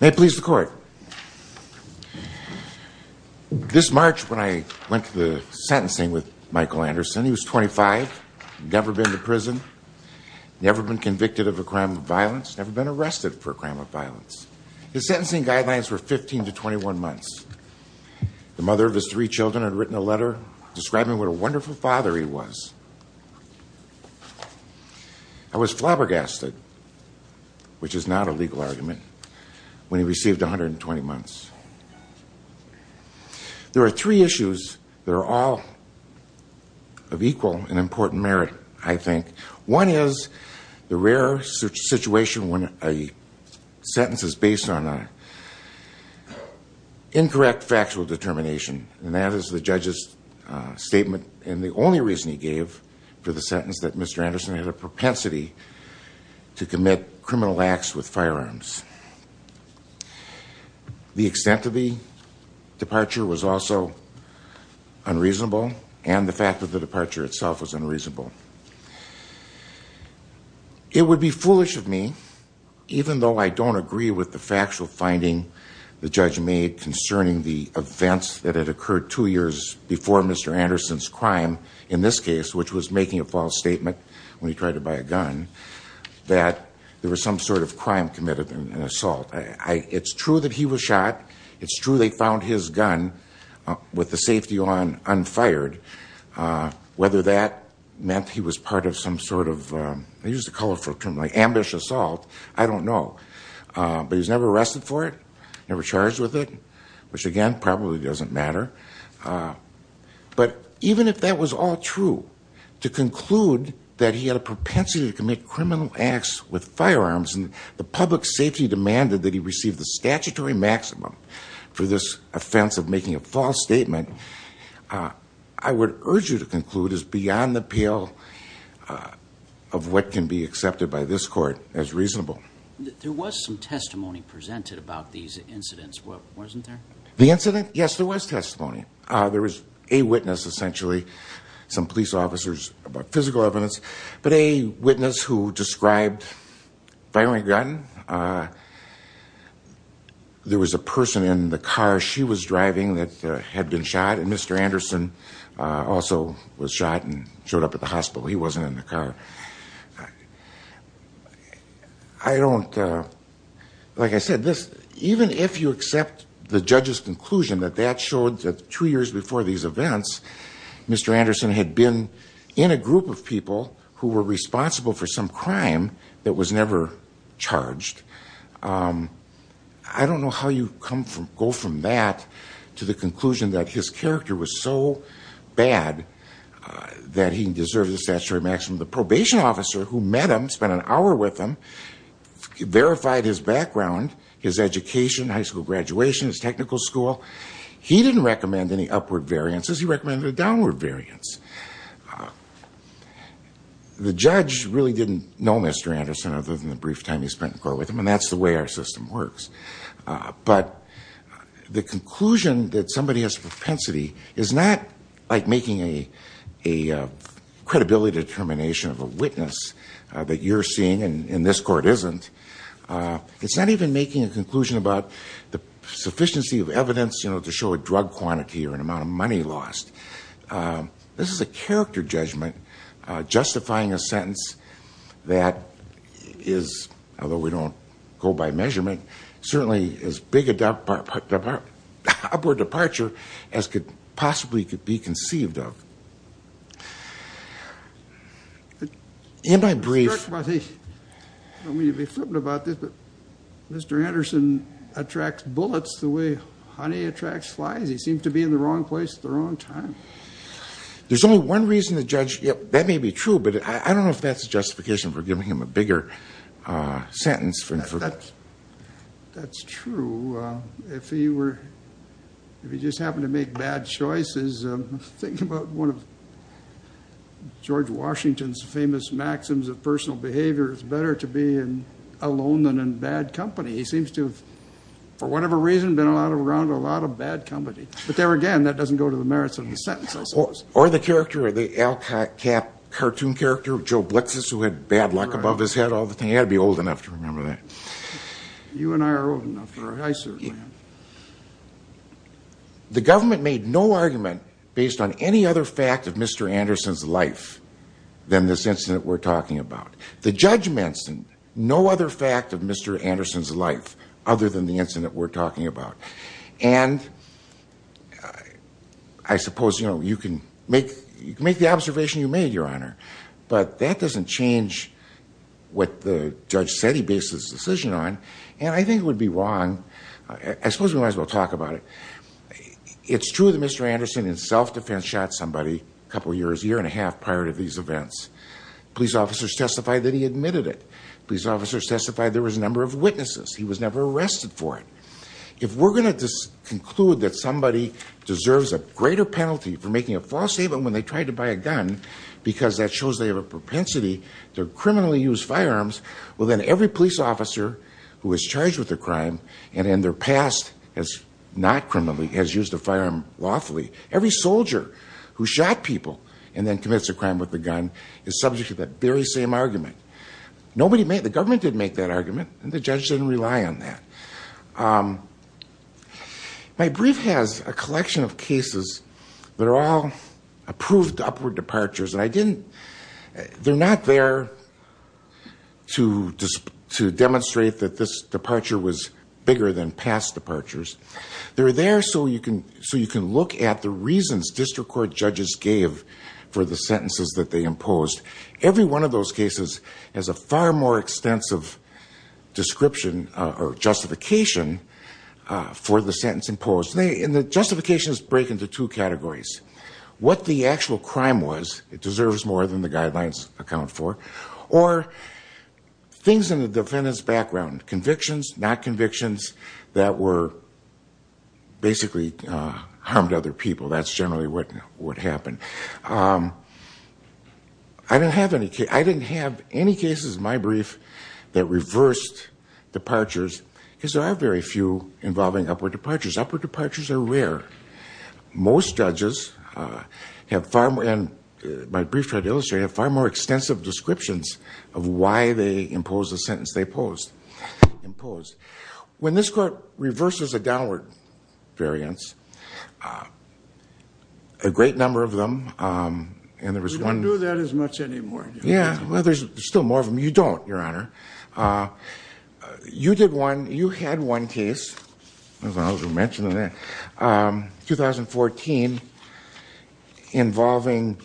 May it please the court. This March when I went to the sentencing with Michael Anderson, he was 25, never been to prison, never been convicted of a crime of violence, never been arrested for a crime of violence. His sentencing guidelines were 15 to 21 months. The mother of his three children had written a letter describing what a wonderful father he was. I was flabbergasted, which is not a legal argument, when he received 120 months. There are three issues that are all of equal and important merit, I think. One is the rare situation when a sentence is based on an incorrect factual determination, and that is the judge's statement and the only reason he gave for the sentence that Mr. Anderson had a propensity to commit criminal acts with firearms. The extent of the departure was also unreasonable, and the fact of the departure itself was unreasonable. It would be foolish of me, even though I don't agree with the factual finding the judge made concerning the events that had occurred two years before Mr. Anderson's crime, in this case, which was making a false statement when he tried to buy a gun, that there was some sort of crime committed, an assault. It's true that he was shot. It's true they found his gun with the safety on, unfired. Whether that meant he was part of some sort of, I use the colorful term, like, which, again, probably doesn't matter, but even if that was all true, to conclude that he had a propensity to commit criminal acts with firearms and the public safety demanded that he receive the statutory maximum for this offense of making a false statement, I would urge you to conclude is beyond the pale of what can be accepted by this court as reasonable. There was some testimony presented about these incidents, wasn't there? The incident? Yes, there was testimony. There was a witness, essentially, some police officers, about physical evidence, but a witness who described firing a gun. There was a person in the car she was driving that had been shot, and Mr. Anderson also was shot and showed up at the hospital. He wasn't in the car. I don't, like I said, even if you accept the judge's conclusion that that showed that two years before these events, Mr. Anderson had been in a group of people who were responsible for some crime that was never charged, I don't know how you go from that to the conclusion that his character was so bad that he deserved the statutory maximum. The probation officer who met him, spent an hour with him, verified his background, his education, high school graduation, his technical school, he didn't recommend any upward variances, he recommended a downward variance. The judge really didn't know Mr. Anderson other than the brief time he spent in court with him, and that's the way our system works. But the conclusion that somebody has propensity is not like making a credibility determination of a witness that you're seeing, and this court isn't. It's not even making a conclusion about the sufficiency of evidence to show a drug quantity or an amount of money lost. This is a character judgment justifying a sentence that is, although we don't go by measurement, certainly as big an upward departure as could possibly be conceived of. In my brief... I don't mean to be flippant about this, but Mr. Anderson attracts bullets the way honey attracts flies? He seems to be in the wrong place at the wrong time. That may be true, but I don't know if that's a justification for giving him a bigger sentence. That's true. If he just happened to make bad choices, think about one of George Washington's famous maxims of personal behavior, it's better to be alone than in bad company. He seems to have, for whatever reason, been around a lot of bad company. But there again, that doesn't go to the merits of the sentence, I suppose. Or the character, the Al Cap cartoon character, Joe Blitzes, who had bad luck above his head all the time. He ought to be old enough to remember that. You and I are old enough for a high cert, man. The government made no argument based on any other fact of Mr. Anderson's life than this incident we're talking about. The judge mentioned no other fact of Mr. Anderson's life other than the incident we're talking about. And I suppose you can make the observation you made, Your Honor, but that doesn't change what the judge said he based his decision on, and I think it would be wrong. I suppose we might as well talk about it. It's true that Mr. Anderson in self-defense shot somebody a couple years, a year and a half prior to these events. Police officers testified that he admitted it. Police officers testified there was a number of witnesses. He was never arrested for it. If we're going to conclude that somebody deserves a greater penalty for making a false statement when they tried to buy a gun, because that shows they have a propensity to criminally use firearms, well then every police officer who was charged with a crime and in their past has not criminally, has used a firearm lawfully, every soldier who shot people and then commits a crime with a gun is subject to that very same argument. The government didn't make that argument, and the judge didn't rely on that. My brief has a collection of cases that are all approved upward departures, and they're not there to demonstrate that this departure was bigger than past departures. They're there so you can look at the reasons district court judges gave for the sentences that they imposed. Every one of those cases has a far more extensive description or justification for the sentence imposed. And the justifications break into two categories, what the actual crime was, it deserves more than the guidelines account for, or things in the defendant's background, convictions, not convictions, that were basically harmed other people, that's generally what happened. I didn't have any cases in my brief that reversed departures, because there are very few involving upward departures, upward departures are rare. Most judges have far more, and my brief tried to illustrate, have far more extensive descriptions of why they imposed the sentence they imposed. When this court reverses a downward variance, a great number of them, and there was one... We don't do that as much anymore. Yeah, well, there's still more of them, you don't, Your Honor. You did one, you had one case, I was going to mention that, 2014, involving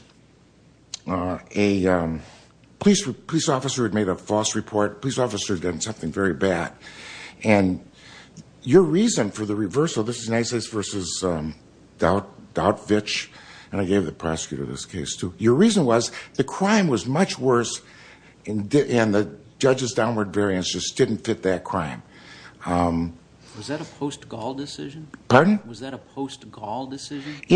a police officer who had made a false report, a police officer had done something very bad, and your reason for the reversal, this is Nysays v. Dautvich, and I gave the prosecutor this case too, your reason was the crime was much worse, and the judge's downward variance just didn't fit that crime. Was that a post-Gaul decision? Yeah,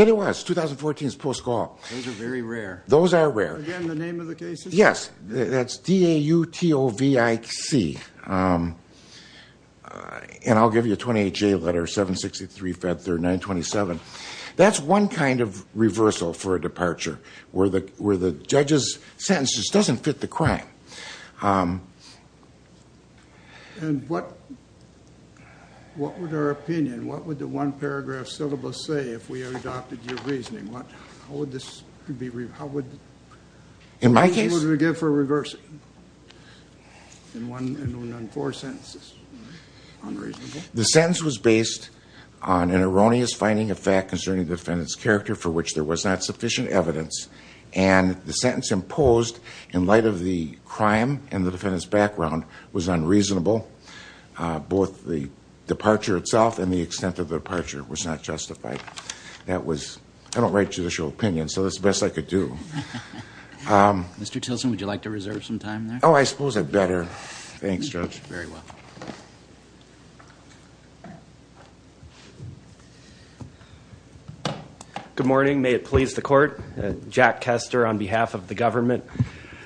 it was, 2014 is post-Gaul. Those are very rare. Again, the name of the case? Yes, that's D-A-U-T-O-V-I-C, and I'll give you a 28-J letter, 763-539-27. That's one kind of reversal for a departure, where the judge's sentence just doesn't fit the crime. And what would our opinion, what would the one-paragraph syllabus say if we adopted your reasoning? How would we give for a reversal? In four sentences, unreasonable. The sentence was based on an erroneous finding of fact concerning the defendant's character for which there was not sufficient evidence, and the sentence imposed in light of the crime and the defendant's background was unreasonable. Both the departure itself and the extent of the departure was not justified. That was, I don't write judicial opinions, so that's the best I could do. Mr. Tilson, would you like to reserve some time there? Oh, I suppose I'd better. Thanks, Judge. Very well. Good morning. May it please the Court? Jack Kester on behalf of the government.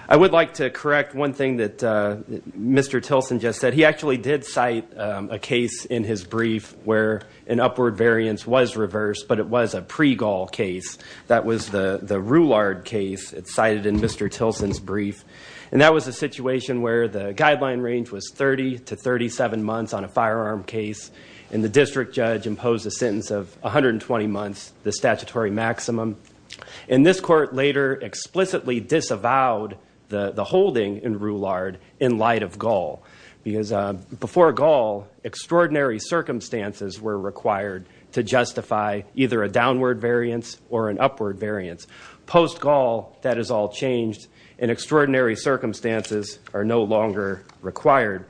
I would like to correct one thing that Mr. Tilson just said. He actually did cite a case in his brief where an upward variance was reversed, but it was a pre-Gaul case. That was the Roulard case cited in Mr. Tilson's brief, and that was a situation where the guideline range was 30 to 37 months on a firearm case, and the district judge imposed a sentence of 120 months, the statutory maximum. And this Court later explicitly disavowed the holding in Roulard in light of Gaul, because before Gaul, extraordinary circumstances were required to justify either a downward variance or an upward variance. Post-Gaul, that has all changed, and extraordinary circumstances are no longer required.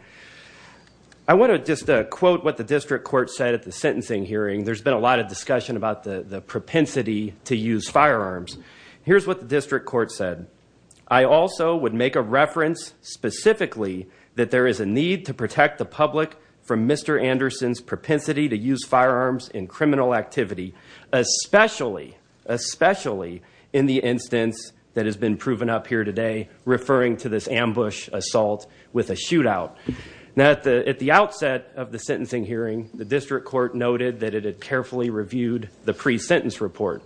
I want to just quote what the district court said at the sentencing hearing. There's been a lot of discussion about the propensity to use firearms. Here's what the district court said. I also would make a reference specifically that there is a need to protect the public from Mr. Anderson's propensity to use firearms in criminal activity, especially, especially in the instance that has been proven up here today, referring to this ambush assault with a shootout. Now, at the outset of the sentencing hearing, the district court noted that it had carefully reviewed the pre-sentence report,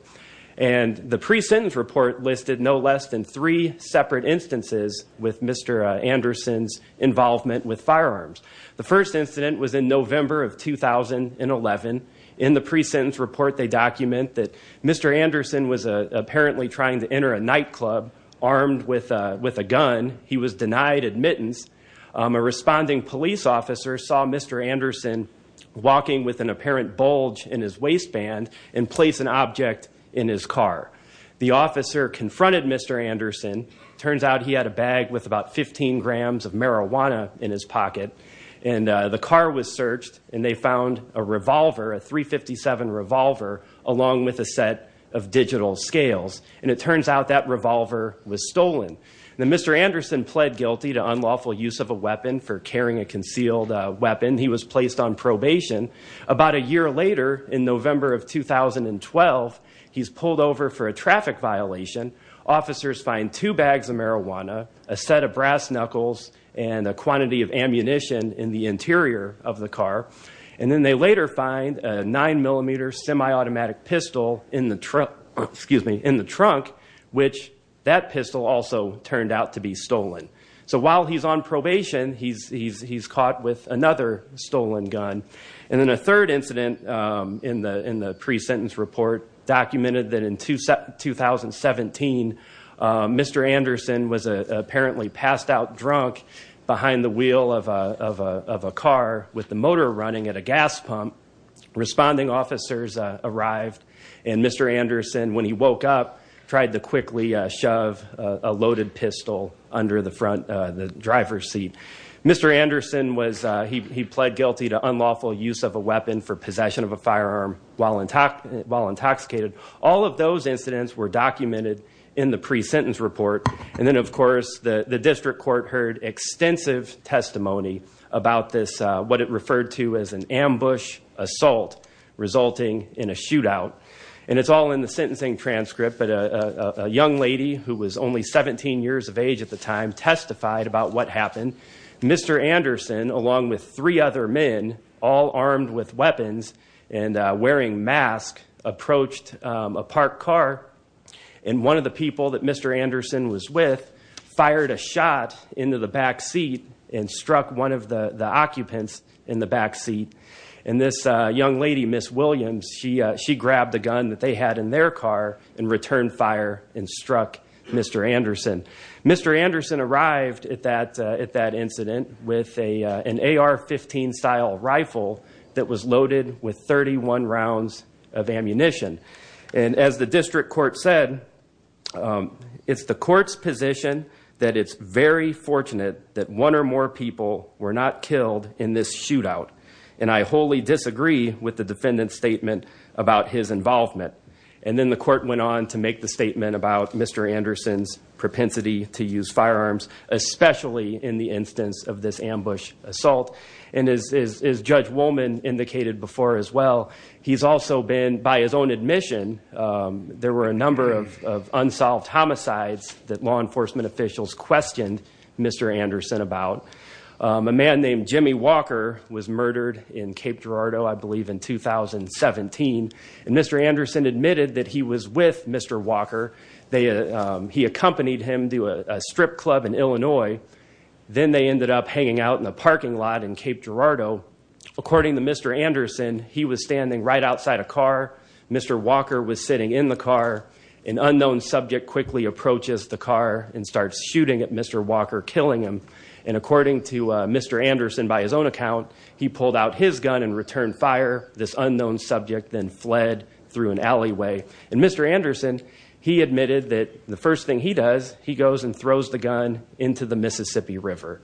and the pre-sentence report listed no less than three separate instances with Mr. Anderson's involvement with firearms. The first incident was in November of 2011. In the pre-sentence report, they document that Mr. Anderson was apparently trying to enter a nightclub armed with a gun. He was denied admittance. A responding police officer saw Mr. Anderson walking with an apparent bulge in his waistband and place an object in his car. The officer confronted Mr. Anderson. It turns out he had a bag with about 15 grams of marijuana in his pocket. And the car was searched, and they found a revolver, a .357 revolver, along with a set of digital scales. And it turns out that revolver was stolen. Mr. Anderson pled guilty to unlawful use of a weapon for carrying a concealed weapon. He was placed on probation. About a year later, in November of 2012, he's pulled over for a traffic violation. Officers find two bags of marijuana, a set of brass knuckles, and a quantity of ammunition in the interior of the car. And then they later find a 9mm semi-automatic pistol in the trunk, which that pistol also turned out to be stolen. So while he's on probation, he's caught with another stolen gun. And then a third incident in the pre-sentence report documented that in 2017, Mr. Anderson was apparently passed out drunk behind the wheel of a car with the motor running at a gas pump. Responding officers arrived, and Mr. Anderson, when he woke up, tried to quickly shove a loaded pistol under the front driver's seat. Mr. Anderson, he pled guilty to unlawful use of a weapon for possession of a firearm while intoxicated. All of those incidents were documented in the pre-sentence report. And then, of course, the district court heard extensive testimony about this, what it referred to as an ambush assault resulting in a shootout. And it's all in the sentencing transcript, but a young lady who was only 17 years of age at the time testified about what happened. Mr. Anderson, along with three other men, all armed with weapons and wearing masks, approached a parked car, and one of the people that Mr. Anderson was with fired a shot into the back seat and struck one of the occupants in the back seat. And this young lady, Ms. Williams, she grabbed the gun that they had in their car and returned fire and struck Mr. Anderson. Mr. Anderson arrived at that incident with an AR-15-style rifle that was loaded with 31 rounds of ammunition. And as the district court said, it's the court's position that it's very fortunate that one or more people were not killed in this shootout. And I wholly disagree with the defendant's statement about his involvement. And then the court went on to make the statement about Mr. Anderson's propensity to use firearms, especially in the instance of this ambush assault. And as Judge Wollman indicated before as well, he's also been, by his own admission, there were a number of unsolved homicides that law enforcement officials questioned Mr. Anderson about. A man named Jimmy Walker was murdered in Cape Girardeau, I believe, in 2017. And Mr. Anderson admitted that he was with Mr. Walker. He accompanied him to a strip club in Illinois. Then they ended up hanging out in a parking lot in Cape Girardeau. According to Mr. Anderson, he was standing right outside a car. Mr. Walker was sitting in the car. An unknown subject quickly approaches the car and starts shooting at Mr. Walker, killing him. And according to Mr. Anderson, by his own account, he pulled out his gun and returned fire. This unknown subject then fled through an alleyway. And Mr. Anderson, he admitted that the first thing he does, he goes and throws the gun into the Mississippi River.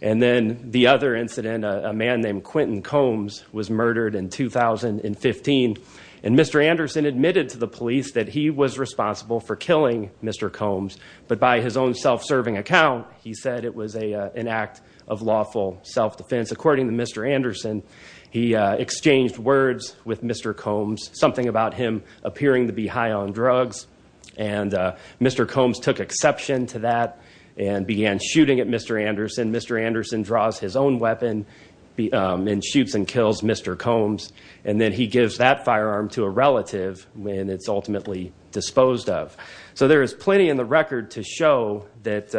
And then the other incident, a man named Quentin Combs was murdered in 2015. And Mr. Anderson admitted to the police that he was responsible for killing Mr. Combs. But by his own self-serving account, he said it was an act of lawful self-defense. According to Mr. Anderson, he exchanged words with Mr. Combs, something about him appearing to be high on drugs. And Mr. Combs took exception to that and began shooting at Mr. Anderson. Mr. Anderson draws his own weapon and shoots and kills Mr. Combs. And then he gives that firearm to a relative, and it's ultimately disposed of. So there is plenty in the record to show that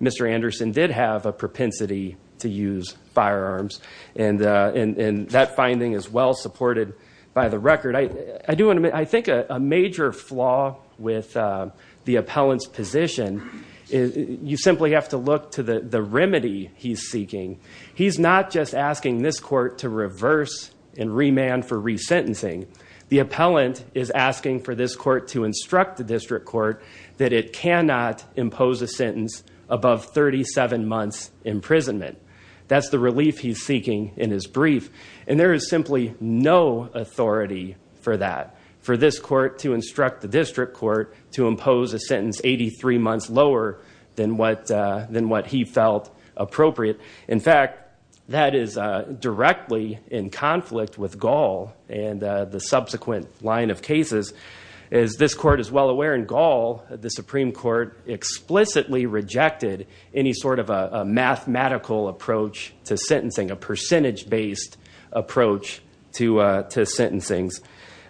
Mr. Anderson did have a propensity to use firearms. And that finding is well supported by the record. I think a major flaw with the appellant's position, you simply have to look to the remedy he's seeking. He's not just asking this court to reverse and remand for resentencing. The appellant is asking for this court to instruct the district court that it cannot impose a sentence above 37 months' imprisonment. That's the relief he's seeking in his brief. And there is simply no authority for that, for this court to instruct the district court to impose a sentence 83 months lower than what he felt appropriate. In fact, that is directly in conflict with Gall and the subsequent line of cases. As this court is well aware in Gall, the Supreme Court explicitly rejected any sort of a mathematical approach to sentencing, a percentage-based approach to sentencing.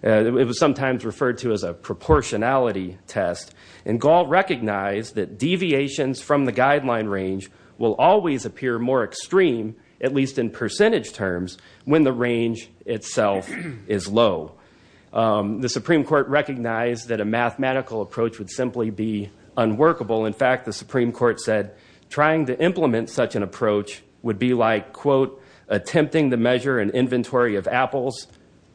It was sometimes referred to as a proportionality test. And Gall recognized that deviations from the guideline range will always appear more extreme, at least in percentage terms, when the range itself is low. The Supreme Court recognized that a mathematical approach would simply be unworkable. In fact, the Supreme Court said trying to implement such an approach would be like, quote, attempting to measure an inventory of apples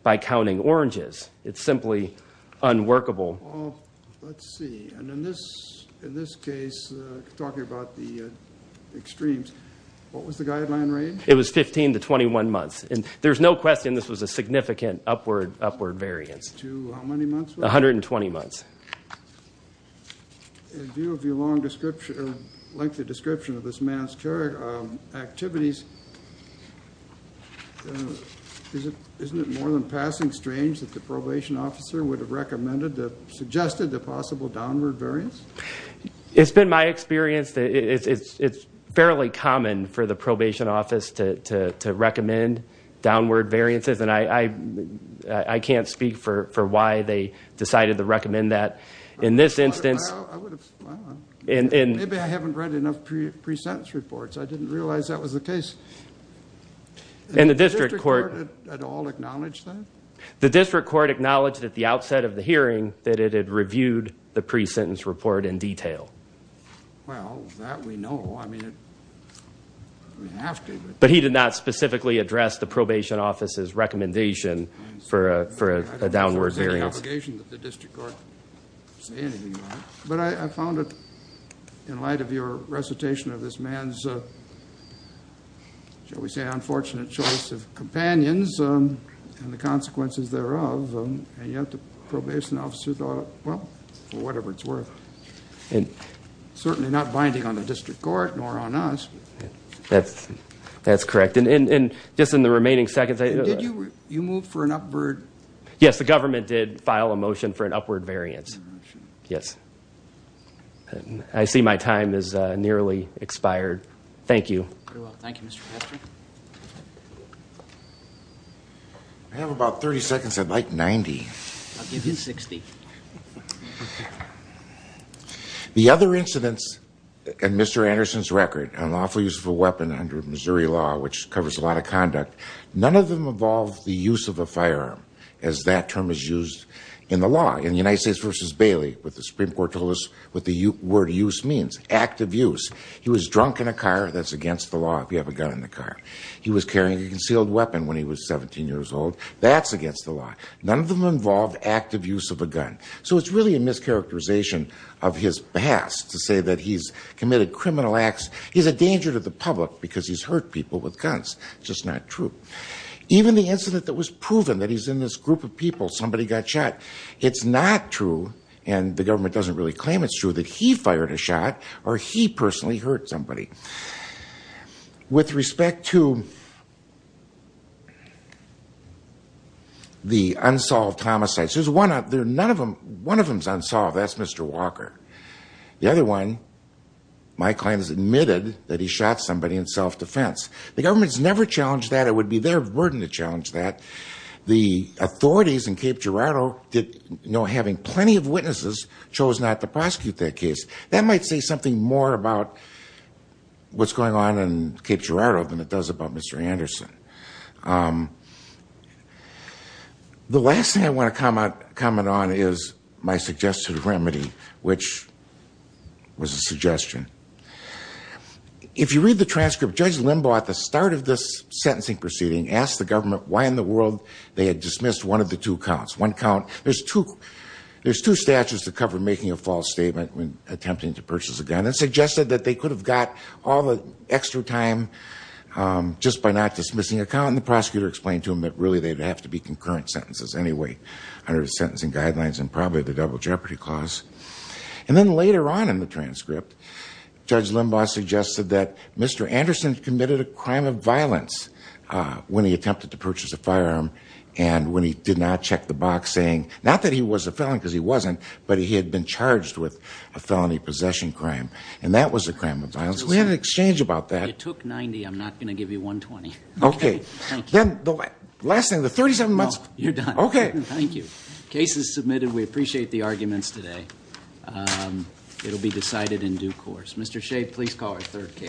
by counting oranges. It's simply unworkable. Well, let's see. And in this case, talking about the extremes, what was the guideline range? It was 15 to 21 months. And there's no question this was a significant upward variance. To how many months? 120 months. In view of your lengthy description of this man's activities, isn't it more than passing strange that the probation officer would have recommended, suggested the possible downward variance? It's been my experience that it's fairly common for the probation office to recommend downward variances, and I can't speak for why they decided to recommend that. In this instance... Maybe I haven't read enough pre-sentence reports. I didn't realize that was the case. Did the district court at all acknowledge that? The district court acknowledged at the outset of the hearing that it had reviewed the pre-sentence report in detail. Well, that we know. I mean, we have to. But he did not specifically address the probation officer's recommendation for a downward variance. I don't think there was any obligation that the district court say anything about it. But I found it, in light of your recitation of this man's, shall we say, unfortunate choice of companions and the consequences thereof, and yet the probation officer thought, well, for whatever it's worth. Certainly not binding on the district court nor on us. That's correct. And just in the remaining seconds... Yes, the government did file a motion for an upward variance. I see my time has nearly expired. Thank you. Very well. Thank you, Mr. Patrick. I have about 30 seconds. I'd like 90. I'll give you 60. The other incidents in Mr. Anderson's record, an awful use of a weapon under Missouri law, which covers a lot of conduct, none of them involve the use of a firearm, as that term is used in the law. In the United States v. Bailey, what the Supreme Court told us, what the word use means, active use. He was drunk in a car. That's against the law if you have a gun in the car. He was carrying a concealed weapon when he was 17 years old. That's against the law. None of them involved active use of a gun. So it's really a mischaracterization of his past to say that he's committed criminal acts. He's a danger to the public because he's hurt people with guns. It's just not true. Even the incident that was proven, that he's in this group of people, somebody got shot. It's not true, and the government doesn't really claim it's true, that he fired a shot or he personally hurt somebody. With respect to the unsolved homicides, one of them is unsolved. That's Mr. Walker. The other one, my client has admitted that he shot somebody in self-defense. The government's never challenged that. It would be their burden to challenge that. The authorities in Cape Girardeau, having plenty of witnesses, chose not to prosecute that case. That might say something more about what's going on in Cape Girardeau than it does about Mr. Anderson. The last thing I want to comment on is my suggested remedy, which was a suggestion. If you read the transcript, Judge Limbaugh, at the start of this sentencing proceeding, asked the government why in the world they had dismissed one of the two counts. There's two statutes that cover making a false statement when attempting to purchase a gun, and it suggested that they could have got all the extra time just by not dismissing a count, and the prosecutor explained to him that really they'd have to be concurrent sentences anyway, under the sentencing guidelines and probably the double jeopardy clause. And then later on in the transcript, Judge Limbaugh suggested that Mr. Anderson committed a crime of violence when he attempted to purchase a firearm, and when he did not check the box, saying not that he was a felon, because he wasn't, but he had been charged with a felony possession crime. And that was a crime of violence. We had an exchange about that. You took 90. I'm not going to give you 120. Okay. Thank you. The last thing, the 37 months. No, you're done. Okay. Thank you. Case is submitted. We appreciate the arguments today. It'll be decided in due course. Mr. Shade, please call our third case.